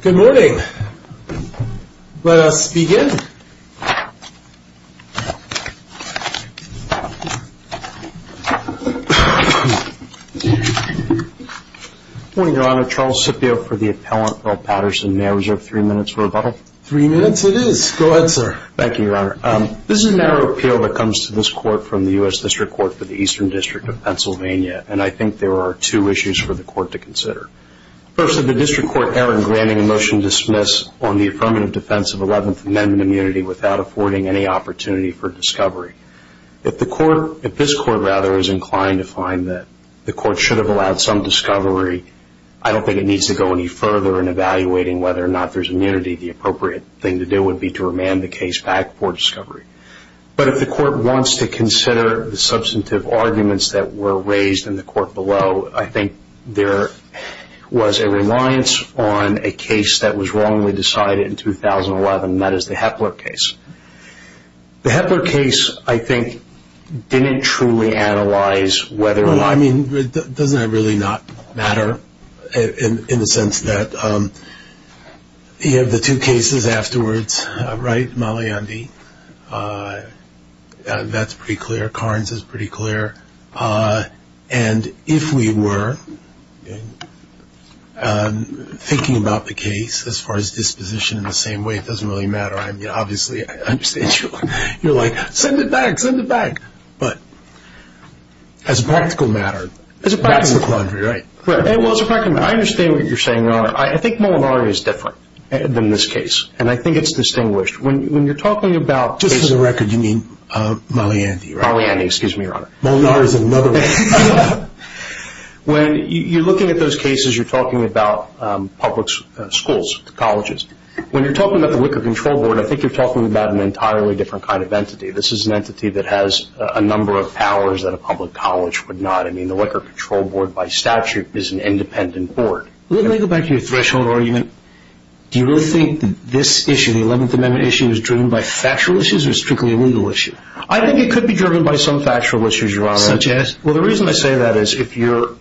Good morning. Let us begin. Good morning, Your Honor. Charles Scipio for the appellant, Bill Patterson. May I reserve three minutes for rebuttal? Three minutes it is. Go ahead, sir. Thank you, Your Honor. This is a narrow appeal that comes to this court from the U.S. District Court for the Eastern District of Pennsylvania, and I think there are two issues for the court to consider. First, did the District Court err in granting a motion to dismiss on the affirmative defense of Eleventh Amendment immunity without affording any opportunity for discovery? If this court, rather, is inclined to find that the court should have allowed some discovery, I don't think it needs to go any further in evaluating whether or not there's immunity. The appropriate thing to do would be to remand the case back for discovery. But if the court wants to consider the substantive arguments that were raised in the court below, I think there was a reliance on a case that was wrongly decided in 2011, and that is the Hepler case. The Hepler case, I think, didn't truly analyze whether or not... That's pretty clear. Carnes is pretty clear. And if we were thinking about the case as far as disposition in the same way, it doesn't really matter. Obviously, I understand you're like, send it back, send it back. But as a practical matter, that's the quandary, right? Well, as a practical matter, I understand what you're saying, Your Honor. I think Molinari is different than this case, and I think it's distinguished. When you're talking about... Just for the record, you mean Maliandi, right? Maliandi, excuse me, Your Honor. Molinari is another one. When you're looking at those cases, you're talking about public schools, colleges. When you're talking about the Wicker Control Board, I think you're talking about an entirely different kind of entity. This is an entity that has a number of powers that a public college would not. I mean, the Wicker Control Board, by statute, is an independent board. Let me go back to your threshold argument. Do you really think this issue, the 11th Amendment issue, is driven by factual issues or strictly a legal issue? I think it could be driven by some factual issues, Your Honor. Such as? Well, the reason I say that is if you're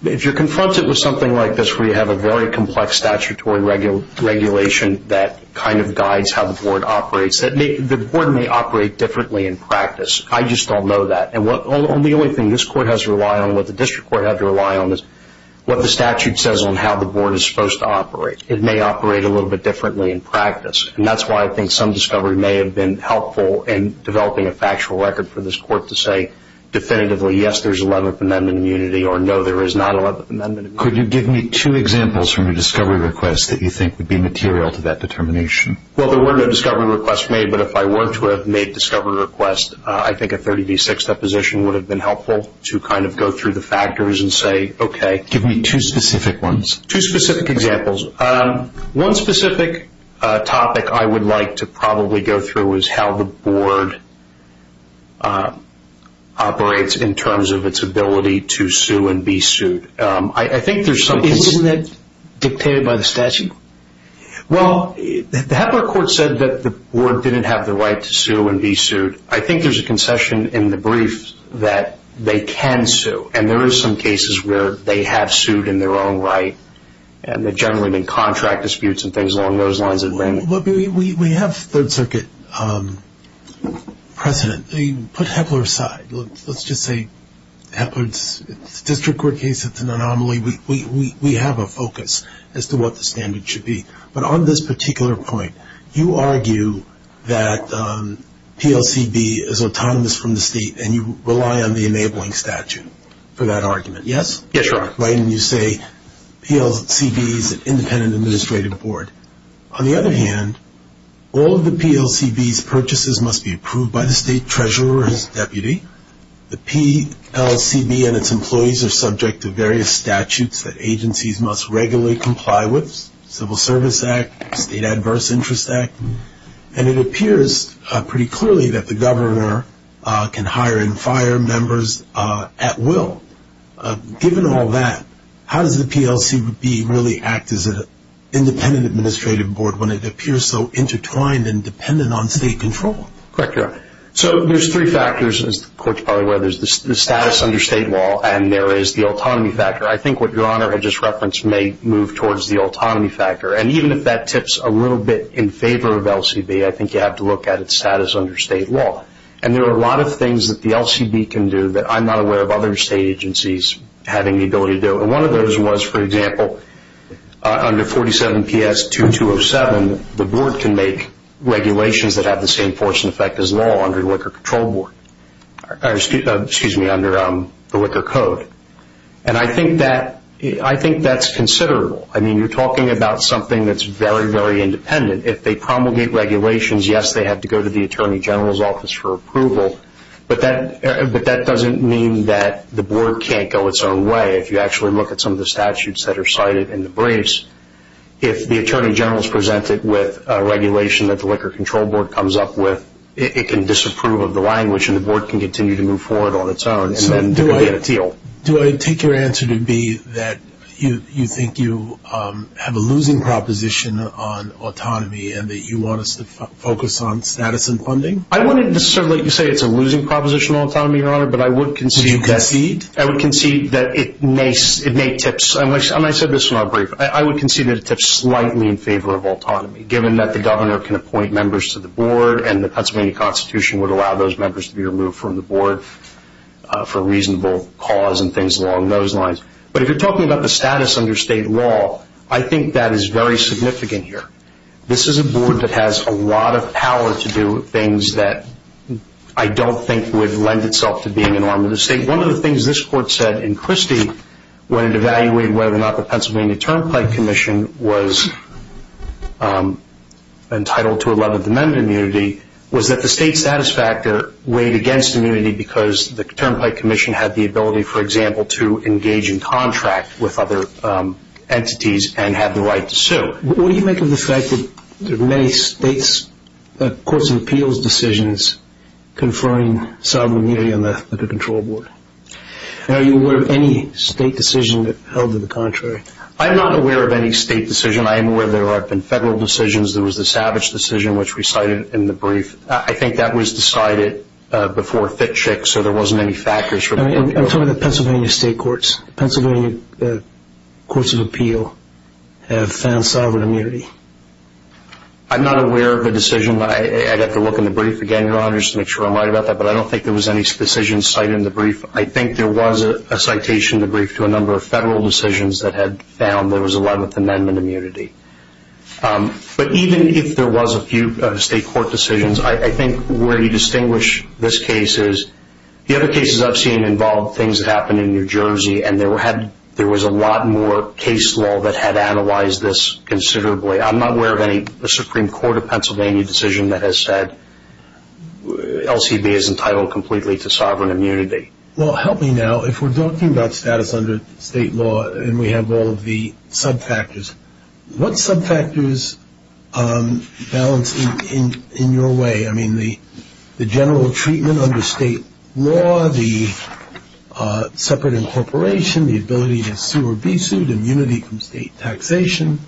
confronted with something like this where you have a very complex statutory regulation that kind of guides how the board operates, the board may operate differently in practice. I just don't know that. And the only thing this court has to rely on, what the district court has to rely on, is what the statute says on how the board is supposed to operate. It may operate a little bit differently in practice. And that's why I think some discovery may have been helpful in developing a factual record for this court to say definitively, yes, there's 11th Amendment immunity, or no, there is not 11th Amendment immunity. Could you give me two examples from your discovery request that you think would be material to that determination? Well, there were no discovery requests made, but if I were to have made discovery requests, I think a 30 v. 6 deposition would have been helpful to kind of go through the factors and say, okay. Give me two specific ones. Two specific examples. One specific topic I would like to probably go through is how the board operates in terms of its ability to sue and be sued. Isn't that dictated by the statute? Well, the Hepler Court said that the board didn't have the right to sue and be sued. I think there's a concession in the brief that they can sue, and there are some cases where they have sued in their own right, and there have generally been contract disputes and things along those lines. We have Third Circuit precedent. They put Hepler aside. Let's just say it's a district court case. It's an anomaly. We have a focus as to what the standard should be. But on this particular point, you argue that PLCB is autonomous from the state, and you rely on the enabling statute for that argument, yes? Yes, Your Honor. Right, and you say PLCB is an independent administrative board. On the other hand, all of the PLCB's purchases must be approved by the state treasurer or his deputy. The PLCB and its employees are subject to various statutes that agencies must regularly comply with, such as the Civil Service Act, State Adverse Interest Act, and it appears pretty clearly that the governor can hire and fire members at will. Given all that, how does the PLCB really act as an independent administrative board when it appears so intertwined and dependent on state control? Correct, Your Honor. So there's three factors, as the court's probably aware. There's the status under state law, and there is the autonomy factor. I think what Your Honor had just referenced may move towards the autonomy factor, and even if that tips a little bit in favor of LCB, I think you have to look at its status under state law. And there are a lot of things that the LCB can do that I'm not aware of other state agencies having the ability to do. And one of those was, for example, under 47PS2207, the board can make regulations that have the same force and effect as law under the Liquor Control Board, or excuse me, under the Liquor Code. And I think that's considerable. I mean, you're talking about something that's very, very independent. If they promulgate regulations, yes, they have to go to the Attorney General's office for approval, but that doesn't mean that the board can't go its own way. If you actually look at some of the statutes that are cited in the briefs, if the Attorney General's presented with a regulation that the Liquor Control Board comes up with, it can disapprove of the language and the board can continue to move forward on its own. So do I take your answer to be that you think you have a losing proposition on autonomy and that you want us to focus on status and funding? I wouldn't necessarily say it's a losing proposition on autonomy, Your Honor, but I would concede that it may tips. And I said this in our brief. I would concede that it tips slightly in favor of autonomy, given that the governor can appoint members to the board and the Pennsylvania Constitution would allow those members to be removed from the board for reasonable cause and things along those lines. But if you're talking about the status under state law, I think that is very significant here. This is a board that has a lot of power to do things that I don't think would lend itself to being an arm of the state. I think one of the things this Court said in Christie, when it evaluated whether or not the Pennsylvania Turnpike Commission was entitled to 11th Amendment immunity, was that the state satisfactor weighed against immunity because the Turnpike Commission had the ability, for example, to engage in contract with other entities and had the right to sue. What do you make of the fact that there are many states' courts of appeals decisions conferring sovereign immunity on the control board? Are you aware of any state decision that held to the contrary? I'm not aware of any state decision. I am aware there have been federal decisions. There was the Savage decision, which we cited in the brief. I think that was decided before Fitchik, so there wasn't any factors. I'm talking about Pennsylvania state courts. Pennsylvania courts of appeal have found sovereign immunity. I'm not aware of a decision. I'd have to look in the brief again, Your Honor, just to make sure I'm right about that. But I don't think there was any decision cited in the brief. I think there was a citation in the brief to a number of federal decisions that had found there was 11th Amendment immunity. But even if there was a few state court decisions, I think where you distinguish this case is, the other cases I've seen involved things that happened in New Jersey, and there was a lot more case law that had analyzed this considerably. I'm not aware of any Supreme Court of Pennsylvania decision that has said LCB is entitled completely to sovereign immunity. Well, help me now. If we're talking about status under state law and we have all of the subfactors, what subfactors balance in your way? I mean, the general treatment under state law, the separate incorporation, the ability to sue or be sued, immunity from state taxation,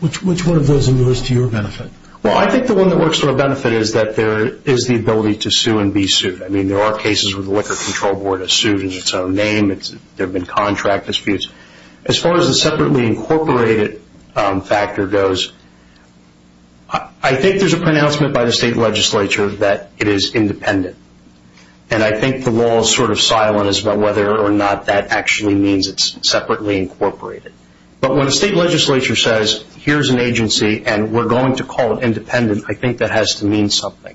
which one of those are yours to your benefit? Well, I think the one that works to our benefit is that there is the ability to sue and be sued. I mean, there are cases where the liquor control board has sued in its own name. There have been contract disputes. As far as the separately incorporated factor goes, I think there's a pronouncement by the state legislature that it is independent. And I think the law is sort of silent as to whether or not that actually means it's separately incorporated. But when a state legislature says, here's an agency and we're going to call it independent, I think that has to mean something.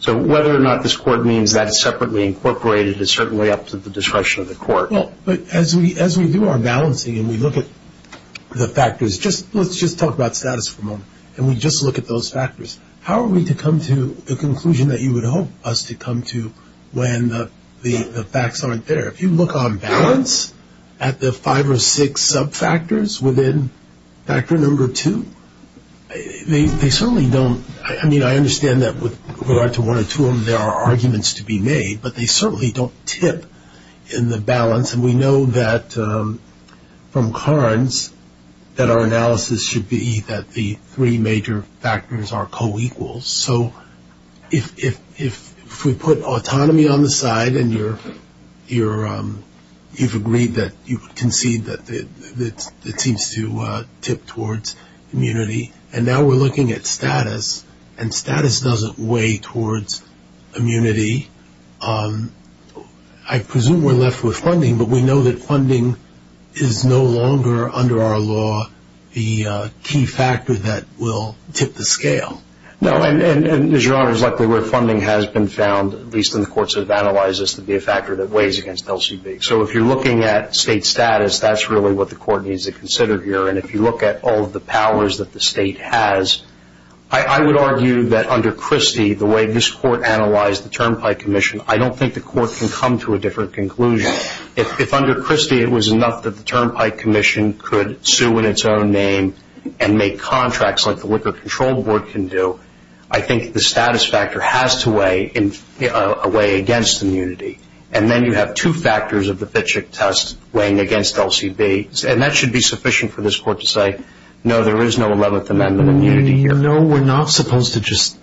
So whether or not this court means that it's separately incorporated is certainly up to the discretion of the court. Well, but as we do our balancing and we look at the factors, let's just talk about status for a moment, and we just look at those factors, how are we to come to the conclusion that you would hope us to come to when the facts aren't there? If you look on balance at the five or six subfactors within factor number two, they certainly don't – I mean, I understand that with regard to one or two of them there are arguments to be made, but they certainly don't tip in the balance. And we know that from Carnes that our analysis should be that the three major factors are co-equals. So if we put autonomy on the side and you've agreed that you concede that it seems to tip towards immunity, and now we're looking at status, and status doesn't weigh towards immunity, I presume we're left with funding, but we know that funding is no longer under our law the key factor that will tip the scale. No, and as your Honor is likely aware, funding has been found, at least in the courts that have analyzed this, to be a factor that weighs against LCB. So if you're looking at state status, that's really what the court needs to consider here. And if you look at all of the powers that the state has, I would argue that under Christie, the way this court analyzed the Turnpike Commission, I don't think the court can come to a different conclusion. If under Christie it was enough that the Turnpike Commission could sue in its own name and make contracts like the Liquor Control Board can do, I think the status factor has to weigh against immunity. And then you have two factors of the Fitchick test weighing against LCB, and that should be sufficient for this court to say, no, there is no 11th Amendment immunity. No, we're not supposed to just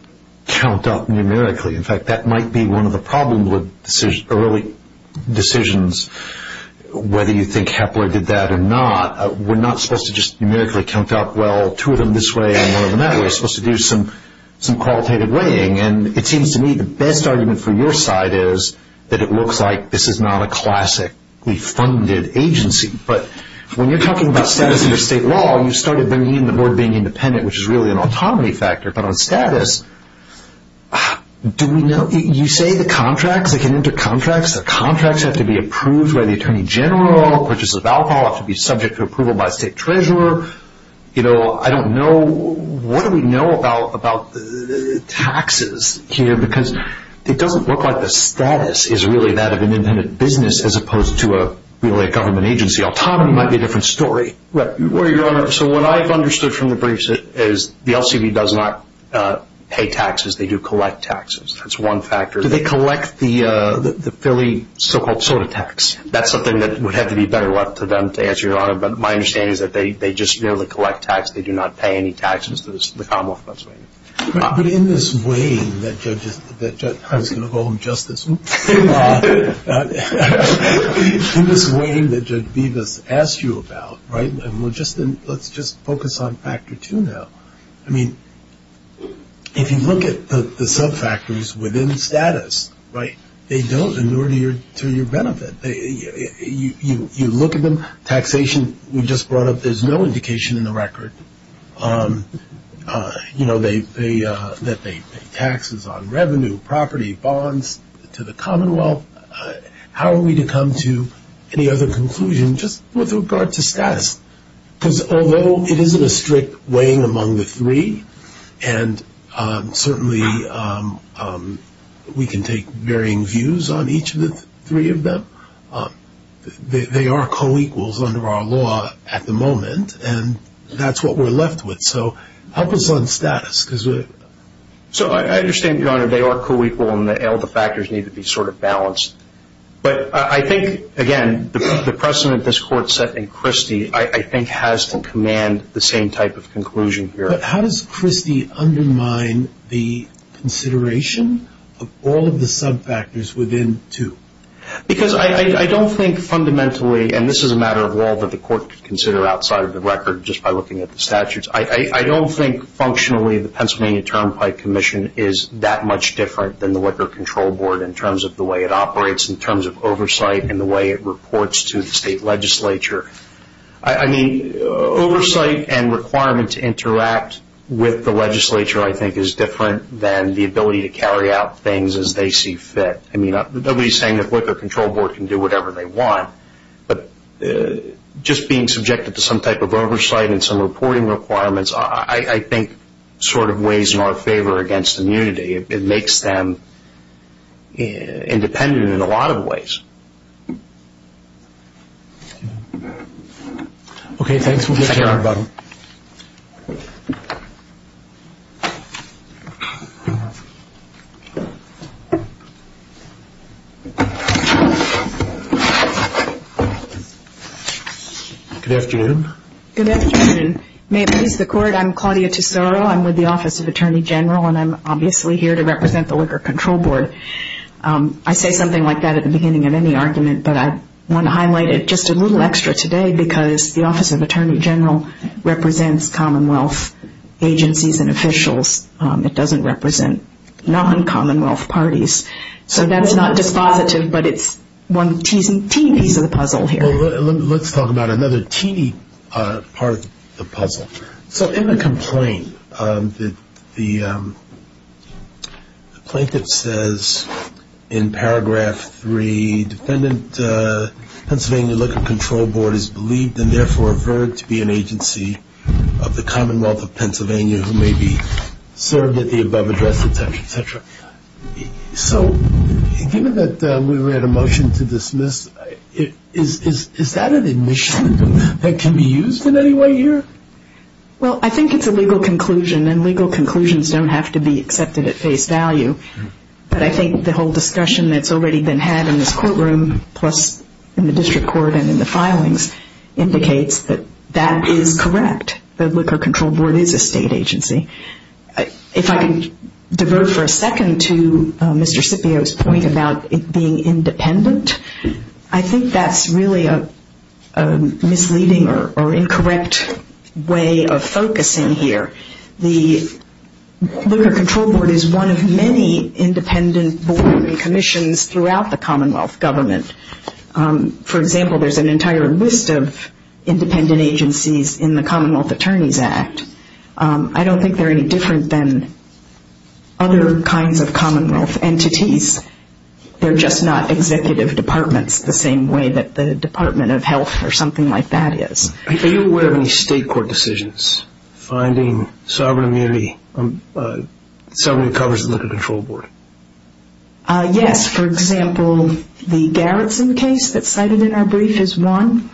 count up numerically. In fact, that might be one of the problems with early decisions, whether you think Hepler did that or not. We're not supposed to just numerically count up, well, two of them this way and one of them that way. We're supposed to do some qualitative weighing. And it seems to me the best argument for your side is that it looks like this is not a classically funded agency. But when you're talking about status under state law, you started bringing in the board being independent, which is really an autonomy factor. But on status, do we know? You say the contracts, they can enter contracts. The contracts have to be approved by the attorney general. Purchases of alcohol have to be subject to approval by a state treasurer. I don't know. What do we know about taxes here? Because it doesn't look like the status is really that of an independent business as opposed to really a government agency. Autonomy might be a different story. Well, Your Honor, so what I've understood from the briefs is the LCB does not pay taxes. They do collect taxes. That's one factor. Do they collect the Philly so-called soda tax? But my understanding is that they just merely collect tax. They do not pay any taxes to the Commonwealth of Pennsylvania. But in this weighing that Judge Beavis asked you about, right, and let's just focus on factor two now. I mean, if you look at the subfactors within status, right, they don't in order to your benefit. You look at them, taxation, we just brought up there's no indication in the record, you know, that they pay taxes on revenue, property, bonds to the Commonwealth. How are we to come to any other conclusion just with regard to status? Because although it isn't a strict weighing among the three and certainly we can take varying views on each of the three of them, they are co-equals under our law at the moment, and that's what we're left with. So help us on status. So I understand, Your Honor, they are co-equal and all the factors need to be sort of balanced. But I think, again, the precedent this Court set in Christie I think has to command the same type of conclusion here. But how does Christie undermine the consideration of all of the subfactors within two? Because I don't think fundamentally, and this is a matter of law that the Court could consider outside of the record just by looking at the statutes, I don't think functionally the Pennsylvania Turnpike Commission is that much different than the Liquor Control Board in terms of the way it operates, in terms of oversight and the way it reports to the state legislature. I mean, oversight and requirement to interact with the legislature, I think, is different than the ability to carry out things as they see fit. I mean, nobody is saying that the Liquor Control Board can do whatever they want, but just being subjected to some type of oversight and some reporting requirements, I think sort of weighs in our favor against immunity. It makes them independent in a lot of ways. Okay, thanks. We'll get to her. Good afternoon. Good afternoon. May it please the Court, I'm Claudia Tesoro. I'm with the Office of Attorney General, and I'm obviously here to represent the Liquor Control Board. I say something like that at the beginning of any argument, but I want to highlight it just a little extra today because the Office of Attorney General represents Commonwealth agencies and officials. It doesn't represent non-Commonwealth parties. So that's not dispositive, but it's one teeny piece of the puzzle here. Let's talk about another teeny part of the puzzle. So in the complaint, the plaintiff says in Paragraph 3, Defendant Pennsylvania Liquor Control Board is believed and therefore referred to be an agency of the Commonwealth of Pennsylvania who may be served at the above address, et cetera, et cetera. So given that we read a motion to dismiss, is that an admission that can be used in any way here? Well, I think it's a legal conclusion, and legal conclusions don't have to be accepted at face value. But I think the whole discussion that's already been had in this courtroom, plus in the district court and in the filings, indicates that that is correct, that Liquor Control Board is a state agency. If I can devote for a second to Mr. Scipio's point about it being independent, I think that's really a misleading or incorrect way of focusing here. The Liquor Control Board is one of many independent board and commissions throughout the Commonwealth government. For example, there's an entire list of independent agencies in the Commonwealth Attorneys Act. I don't think they're any different than other kinds of Commonwealth entities. They're just not executive departments the same way that the Department of Health or something like that is. Are you aware of any state court decisions finding sovereign immunity, sovereignty that covers the Liquor Control Board? Yes. For example, the Garrison case that's cited in our brief is one.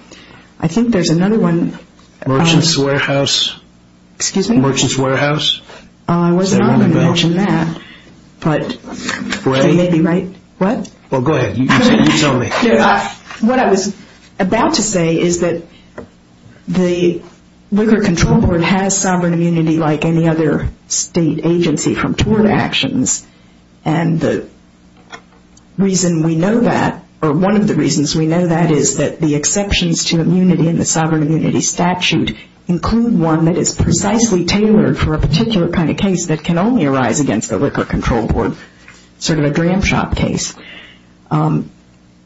I think there's another one. Merchant's Warehouse. Excuse me? Merchant's Warehouse. I wasn't going to mention that. But they may be right. What? Well, go ahead. You tell me. What I was about to say is that the Liquor Control Board has sovereign immunity like any other state agency from tort actions. And the reason we know that, or one of the reasons we know that, is that the exceptions to immunity in the sovereign immunity statute include one that is precisely tailored for a particular kind of case that can only arise against the Liquor Control Board, sort of a dram shop case.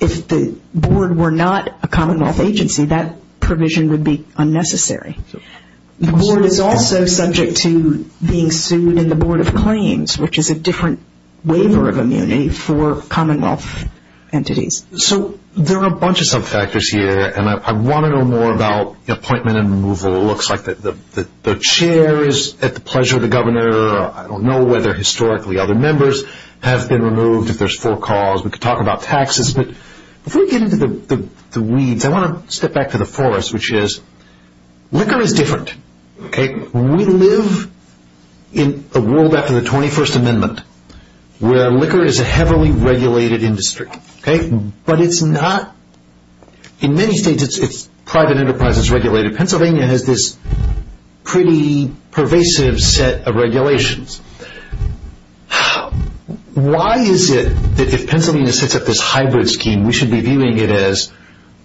If the Board were not a Commonwealth agency, that provision would be unnecessary. The Board is also subject to being sued in the Board of Claims, which is a different waiver of immunity for Commonwealth entities. So there are a bunch of sub-factors here, and I want to know more about appointment and removal. It looks like the chair is at the pleasure of the governor. I don't know whether historically other members have been removed, if there's forecalls. We could talk about taxes. But before we get into the weeds, I want to step back to the forest, which is liquor is different. We live in a world after the 21st Amendment where liquor is a heavily regulated industry. But it's not. In many states it's private enterprises regulated. Pennsylvania has this pretty pervasive set of regulations. Why is it that if Pennsylvania sets up this hybrid scheme, we should be viewing it as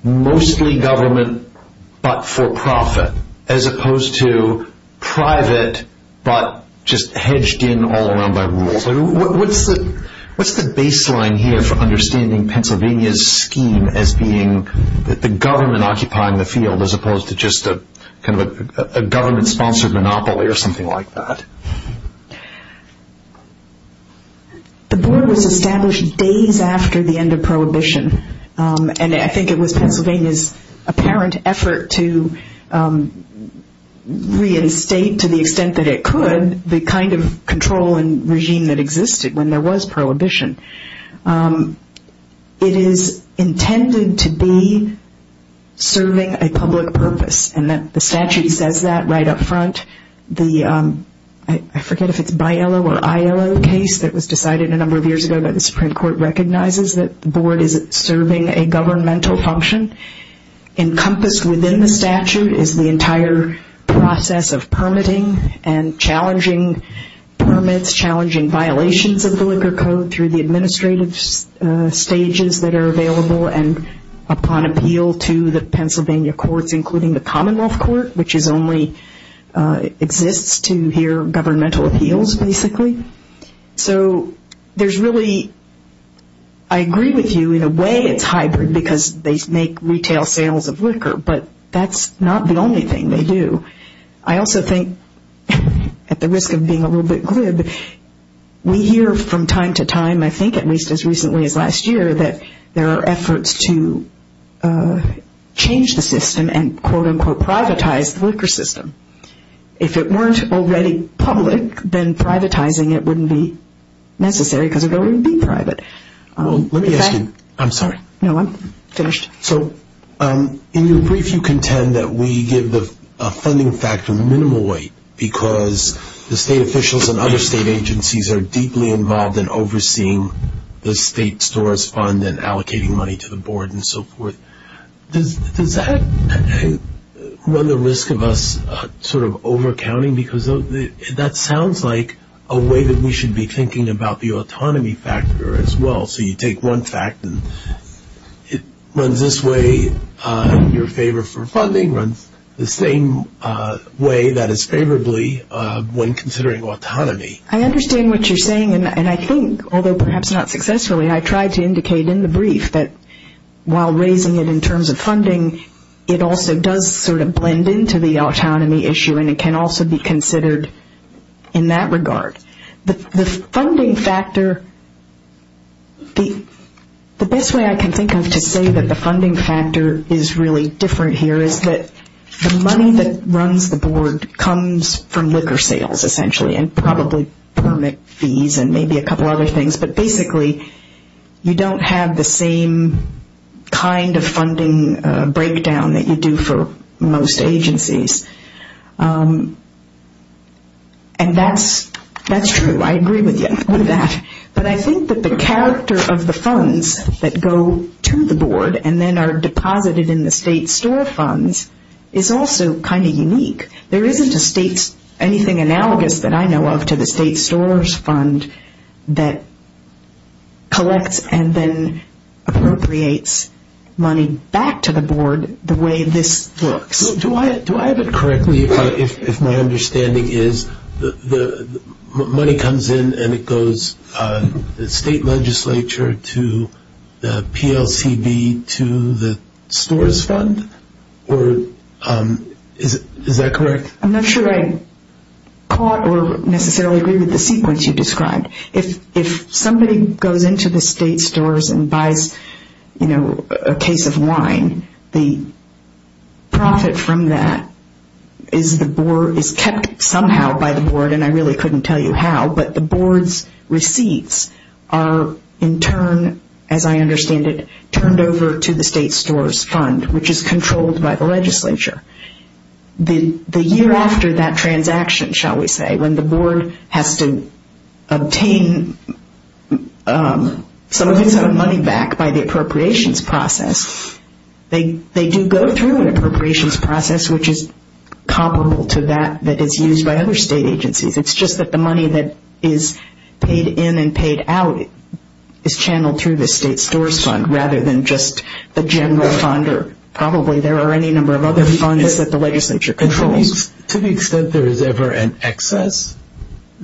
mostly government but for profit, as opposed to private but just hedged in all around by rules? Absolutely. What's the baseline here for understanding Pennsylvania's scheme as being the government occupying the field as opposed to just a government-sponsored monopoly or something like that? The Board was established days after the end of Prohibition, and I think it was Pennsylvania's apparent effort to reinstate, to the extent that it could, the kind of control and regime that existed when there was Prohibition. It is intended to be serving a public purpose, and the statute says that right up front. I forget if it's BILO or ILO case that was decided a number of years ago, but the Supreme Court recognizes that the Board is serving a governmental function. Encompassed within the statute is the entire process of permitting and challenging permits, challenging violations of the liquor code through the administrative stages that are available and upon appeal to the Pennsylvania courts, including the Commonwealth Court, which only exists to hear governmental appeals, basically. So there's really, I agree with you, in a way it's hybrid because they make retail sales of liquor, but that's not the only thing they do. I also think, at the risk of being a little bit glib, we hear from time to time, I think at least as recently as last year, that there are efforts to change the system and quote, unquote, privatize the liquor system. If it weren't already public, then privatizing it wouldn't be necessary because it wouldn't be private. Let me ask you, I'm sorry. No, I'm finished. So in your brief you contend that we give the funding factor minimal weight because the state officials and other state agencies are deeply involved in overseeing the state store's fund and allocating money to the Board and so forth. Does that run the risk of us sort of overcounting? Because that sounds like a way that we should be thinking about the autonomy factor as well. So you take one fact and it runs this way in your favor for funding, runs the same way that is favorably when considering autonomy. I understand what you're saying, and I think, although perhaps not successfully, I tried to indicate in the brief that while raising it in terms of funding, it also does sort of blend into the autonomy issue and it can also be considered in that regard. The funding factor, the best way I can think of to say that the funding factor is really different here is that the money that runs the Board comes from liquor sales essentially and probably permit fees and maybe a couple other things. But basically, you don't have the same kind of funding breakdown that you do for most agencies. And that's true. I agree with you on that. But I think that the character of the funds that go to the Board and then are deposited in the state store funds is also kind of unique. There isn't anything analogous that I know of to the state store's fund that collects and then appropriates money back to the Board the way this looks. Do I have it correctly if my understanding is the money comes in and it goes from the state legislature to the PLCB to the store's fund? Is that correct? I'm not sure I caught or necessarily agree with the sequence you described. If somebody goes into the state stores and buys a case of wine, the profit from that is kept somehow by the Board and I really couldn't tell you how, but the Board's receipts are in turn, as I understand it, turned over to the state store's fund which is controlled by the legislature. The year after that transaction, shall we say, when the Board has to obtain some of its own money back by the appropriations process, they do go through an appropriations process which is comparable to that that is used by other state agencies. It's just that the money that is paid in and paid out is channeled through the state store's fund rather than just the general fund or probably there are any number of other funds that the legislature controls. To the extent there is ever an excess,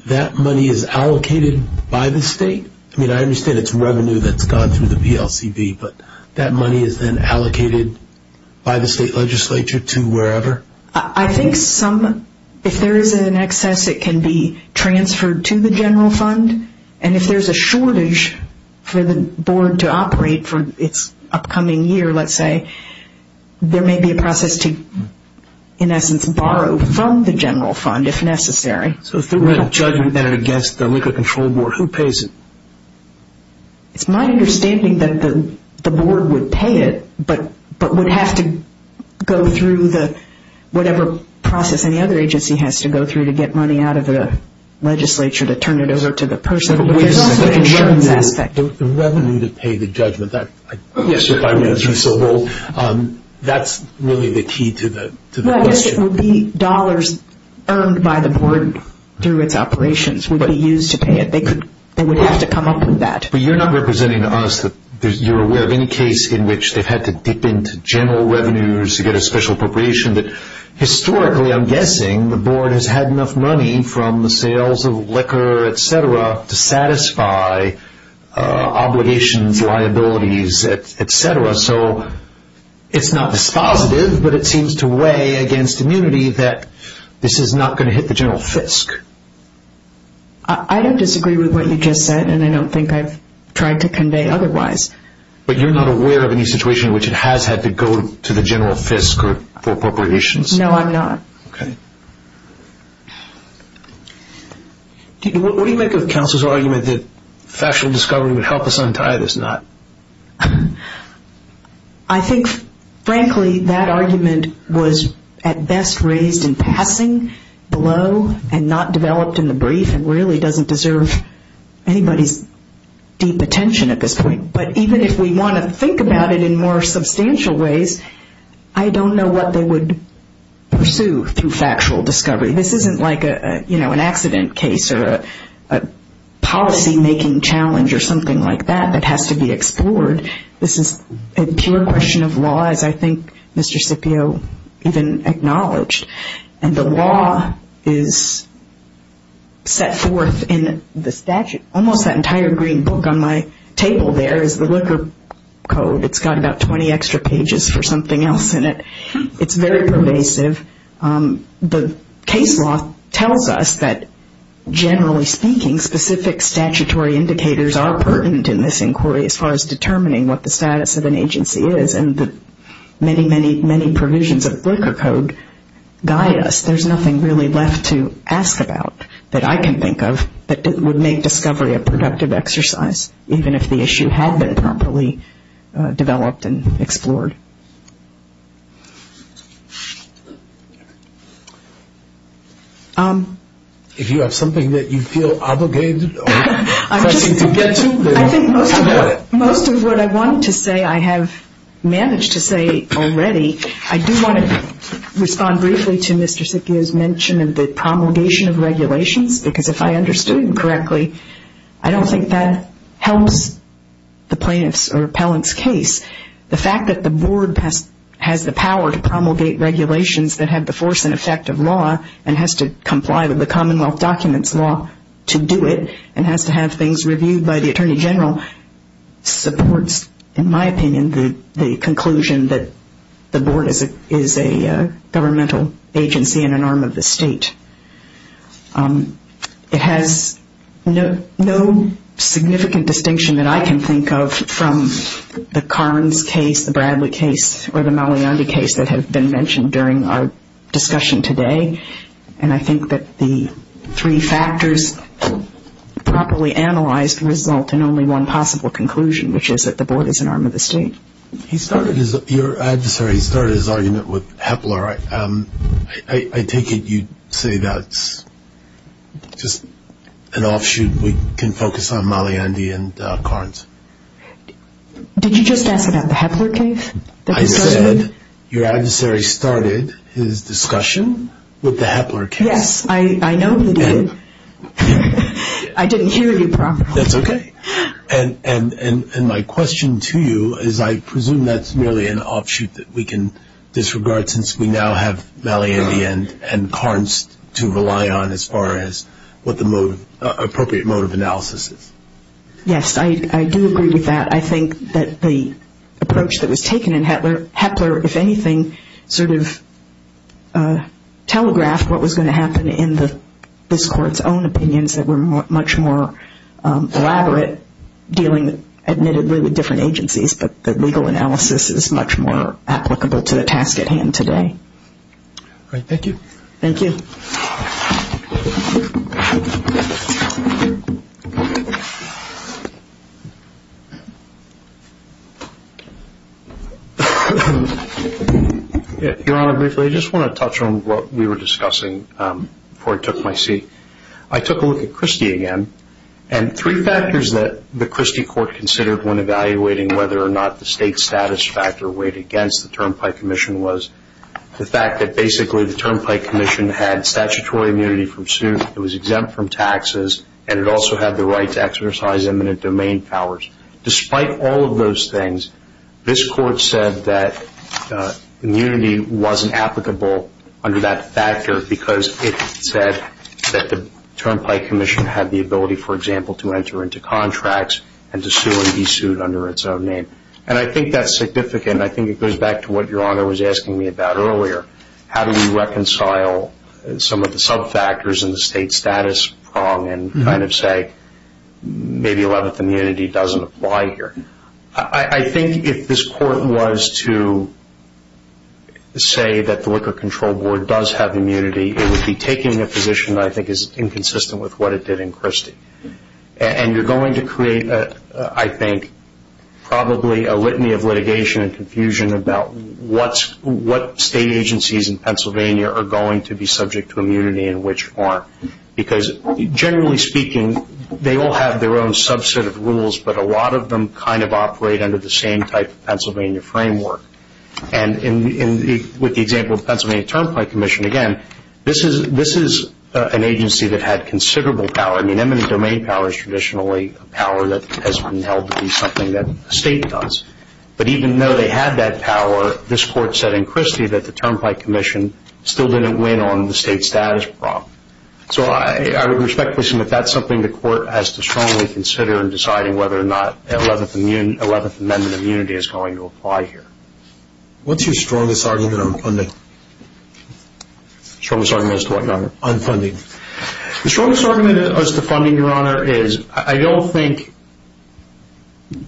that money is allocated by the state? I understand it's revenue that's gone through the PLCB, but that money is then allocated by the state legislature to wherever? I think if there is an excess, it can be transferred to the general fund and if there is a shortage for the Board to operate for its upcoming year, let's say, there may be a process to, in essence, borrow from the general fund if necessary. So if there were a judgment against the Liquor Control Board, who pays it? It's my understanding that the Board would pay it, but would have to go through whatever process any other agency has to go through to get money out of the legislature to turn it over to the person. But there's also the insurance aspect. The revenue to pay the judgment, that's really the key to the question. It would be dollars earned by the Board through its operations would be used to pay it. They would have to come up with that. But you're not representing us. You're aware of any case in which they've had to dip into general revenues to get a special appropriation. Historically, I'm guessing, the Board has had enough money from the sales of liquor, etc., to satisfy obligations, liabilities, etc. So it's not dispositive, but it seems to weigh against immunity that this is not going to hit the general fisc. I don't disagree with what you just said, and I don't think I've tried to convey otherwise. But you're not aware of any situation in which it has had to go to the general fisc for appropriations? No, I'm not. Okay. What do you make of counsel's argument that factual discovery would help us untie this knot? I think, frankly, that argument was at best raised in passing below and not developed in the brief and really doesn't deserve anybody's deep attention at this point. But even if we want to think about it in more substantial ways, I don't know what they would pursue through factual discovery. This isn't like an accident case or a policy-making challenge or something like that that has to be explored. This is a pure question of law, as I think Mr. Scipio even acknowledged. And the law is set forth in the statute. Almost that entire green book on my table there is the liquor code. It's got about 20 extra pages for something else in it. It's very pervasive. The case law tells us that, generally speaking, specific statutory indicators are pertinent in this inquiry as far as determining what the status of an agency is and the many, many, many provisions of liquor code guide us. There's nothing really left to ask about that I can think of that would make discovery a productive exercise, even if the issue had been properly developed and explored. If you have something that you feel obligated or pressing to get to, then talk about it. Most of what I wanted to say I have managed to say already. I do want to respond briefly to Mr. Scipio's mention of the promulgation of regulations, because if I understood him correctly, I don't think that helps the plaintiff's or appellant's case. The fact that the board has the power to promulgate regulations that have the force and effect of law and has to comply with the Commonwealth documents law to do it and has to have things reviewed by the Attorney General supports, in my opinion, the conclusion that the board is a governmental agency and an arm of the state. It has no significant distinction that I can think of from the Carnes case, the Bradley case, or the Malayandi case that have been mentioned during our discussion today, and I think that the three factors properly analyzed result in only one possible conclusion, which is that the board is an arm of the state. Your adversary started his argument with Hepler. I take it you say that's just an offshoot. We can focus on Malayandi and Carnes. Did you just ask about the Hepler case? I said your adversary started his discussion with the Hepler case. Yes, I know that he did. I didn't hear you properly. That's okay. And my question to you is I presume that's merely an offshoot that we can disregard since we now have Malayandi and Carnes to rely on as far as what the appropriate mode of analysis is. Yes, I do agree with that. I think that the approach that was taken in Hepler, if anything, sort of telegraphed what was going to happen in this court's own opinions that were much more elaborate, dealing admittedly with different agencies, but the legal analysis is much more applicable to the task at hand today. All right. Thank you. Thank you. Your Honor, briefly, I just want to touch on what we were discussing before I took my seat. I took a look at Christie again, and three factors that the Christie court considered when evaluating whether or not the state status factor weighed against the term by commission was the fact that basically the term by commission had statutory immunity from suit, it was exempt from taxes, and it also had the right to exercise eminent domain powers. Despite all of those things, this court said that immunity wasn't applicable under that factor because it said that the term by commission had the ability, for example, to enter into contracts and to sue and be sued under its own name. And I think that's significant. I think it goes back to what Your Honor was asking me about earlier. How do we reconcile some of the sub-factors in the state status prong and kind of say maybe 11th immunity doesn't apply here? I think if this court was to say that the Liquor Control Board does have immunity, it would be taking a position that I think is inconsistent with what it did in Christie. And you're going to create, I think, probably a litany of litigation and confusion about what state agencies in Pennsylvania are going to be subject to immunity and which aren't because generally speaking, they all have their own subset of rules, but a lot of them kind of operate under the same type of Pennsylvania framework. And with the example of Pennsylvania Term By Commission, again, this is an agency that had considerable power. I mean, eminent domain power is traditionally a power that has been held to be something that a state does. But even though they had that power, this court said in Christie that the Term By Commission still didn't win on the state status prong. So I would respectfully assume that that's something the court has to strongly consider in deciding whether or not 11th Amendment immunity is going to apply here. What's your strongest argument on funding? Strongest argument as to what, Your Honor? On funding. The strongest argument as to funding, Your Honor, is I don't think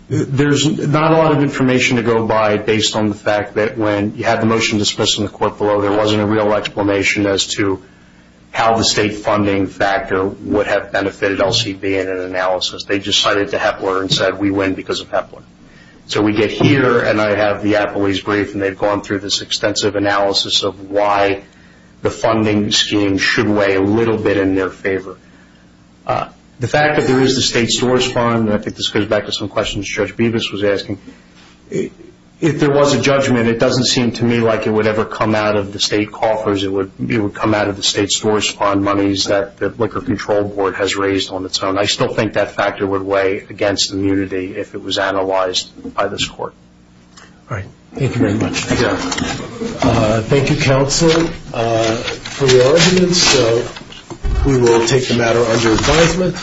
There's not a lot of information to go by based on the fact that when you had the motion dismissed in the court below, there wasn't a real explanation as to how the state funding factor would have benefited LCB in an analysis. They just cited to Hepler and said we win because of Hepler. So we get here and I have the appellee's brief and they've gone through this extensive analysis of why the funding scheme should weigh a little bit in their favor. The fact that there is the state stores fund, and I think this goes back to some questions Judge Bevis was asking, if there was a judgment, it doesn't seem to me like it would ever come out of the state coffers. It would come out of the state stores fund monies that the Liquor Control Board has raised on its own. I still think that factor would weigh against immunity if it was analyzed by this court. All right. Thank you very much. Thank you. Thank you, Counselor. For your arguments, we will take the matter under advisement.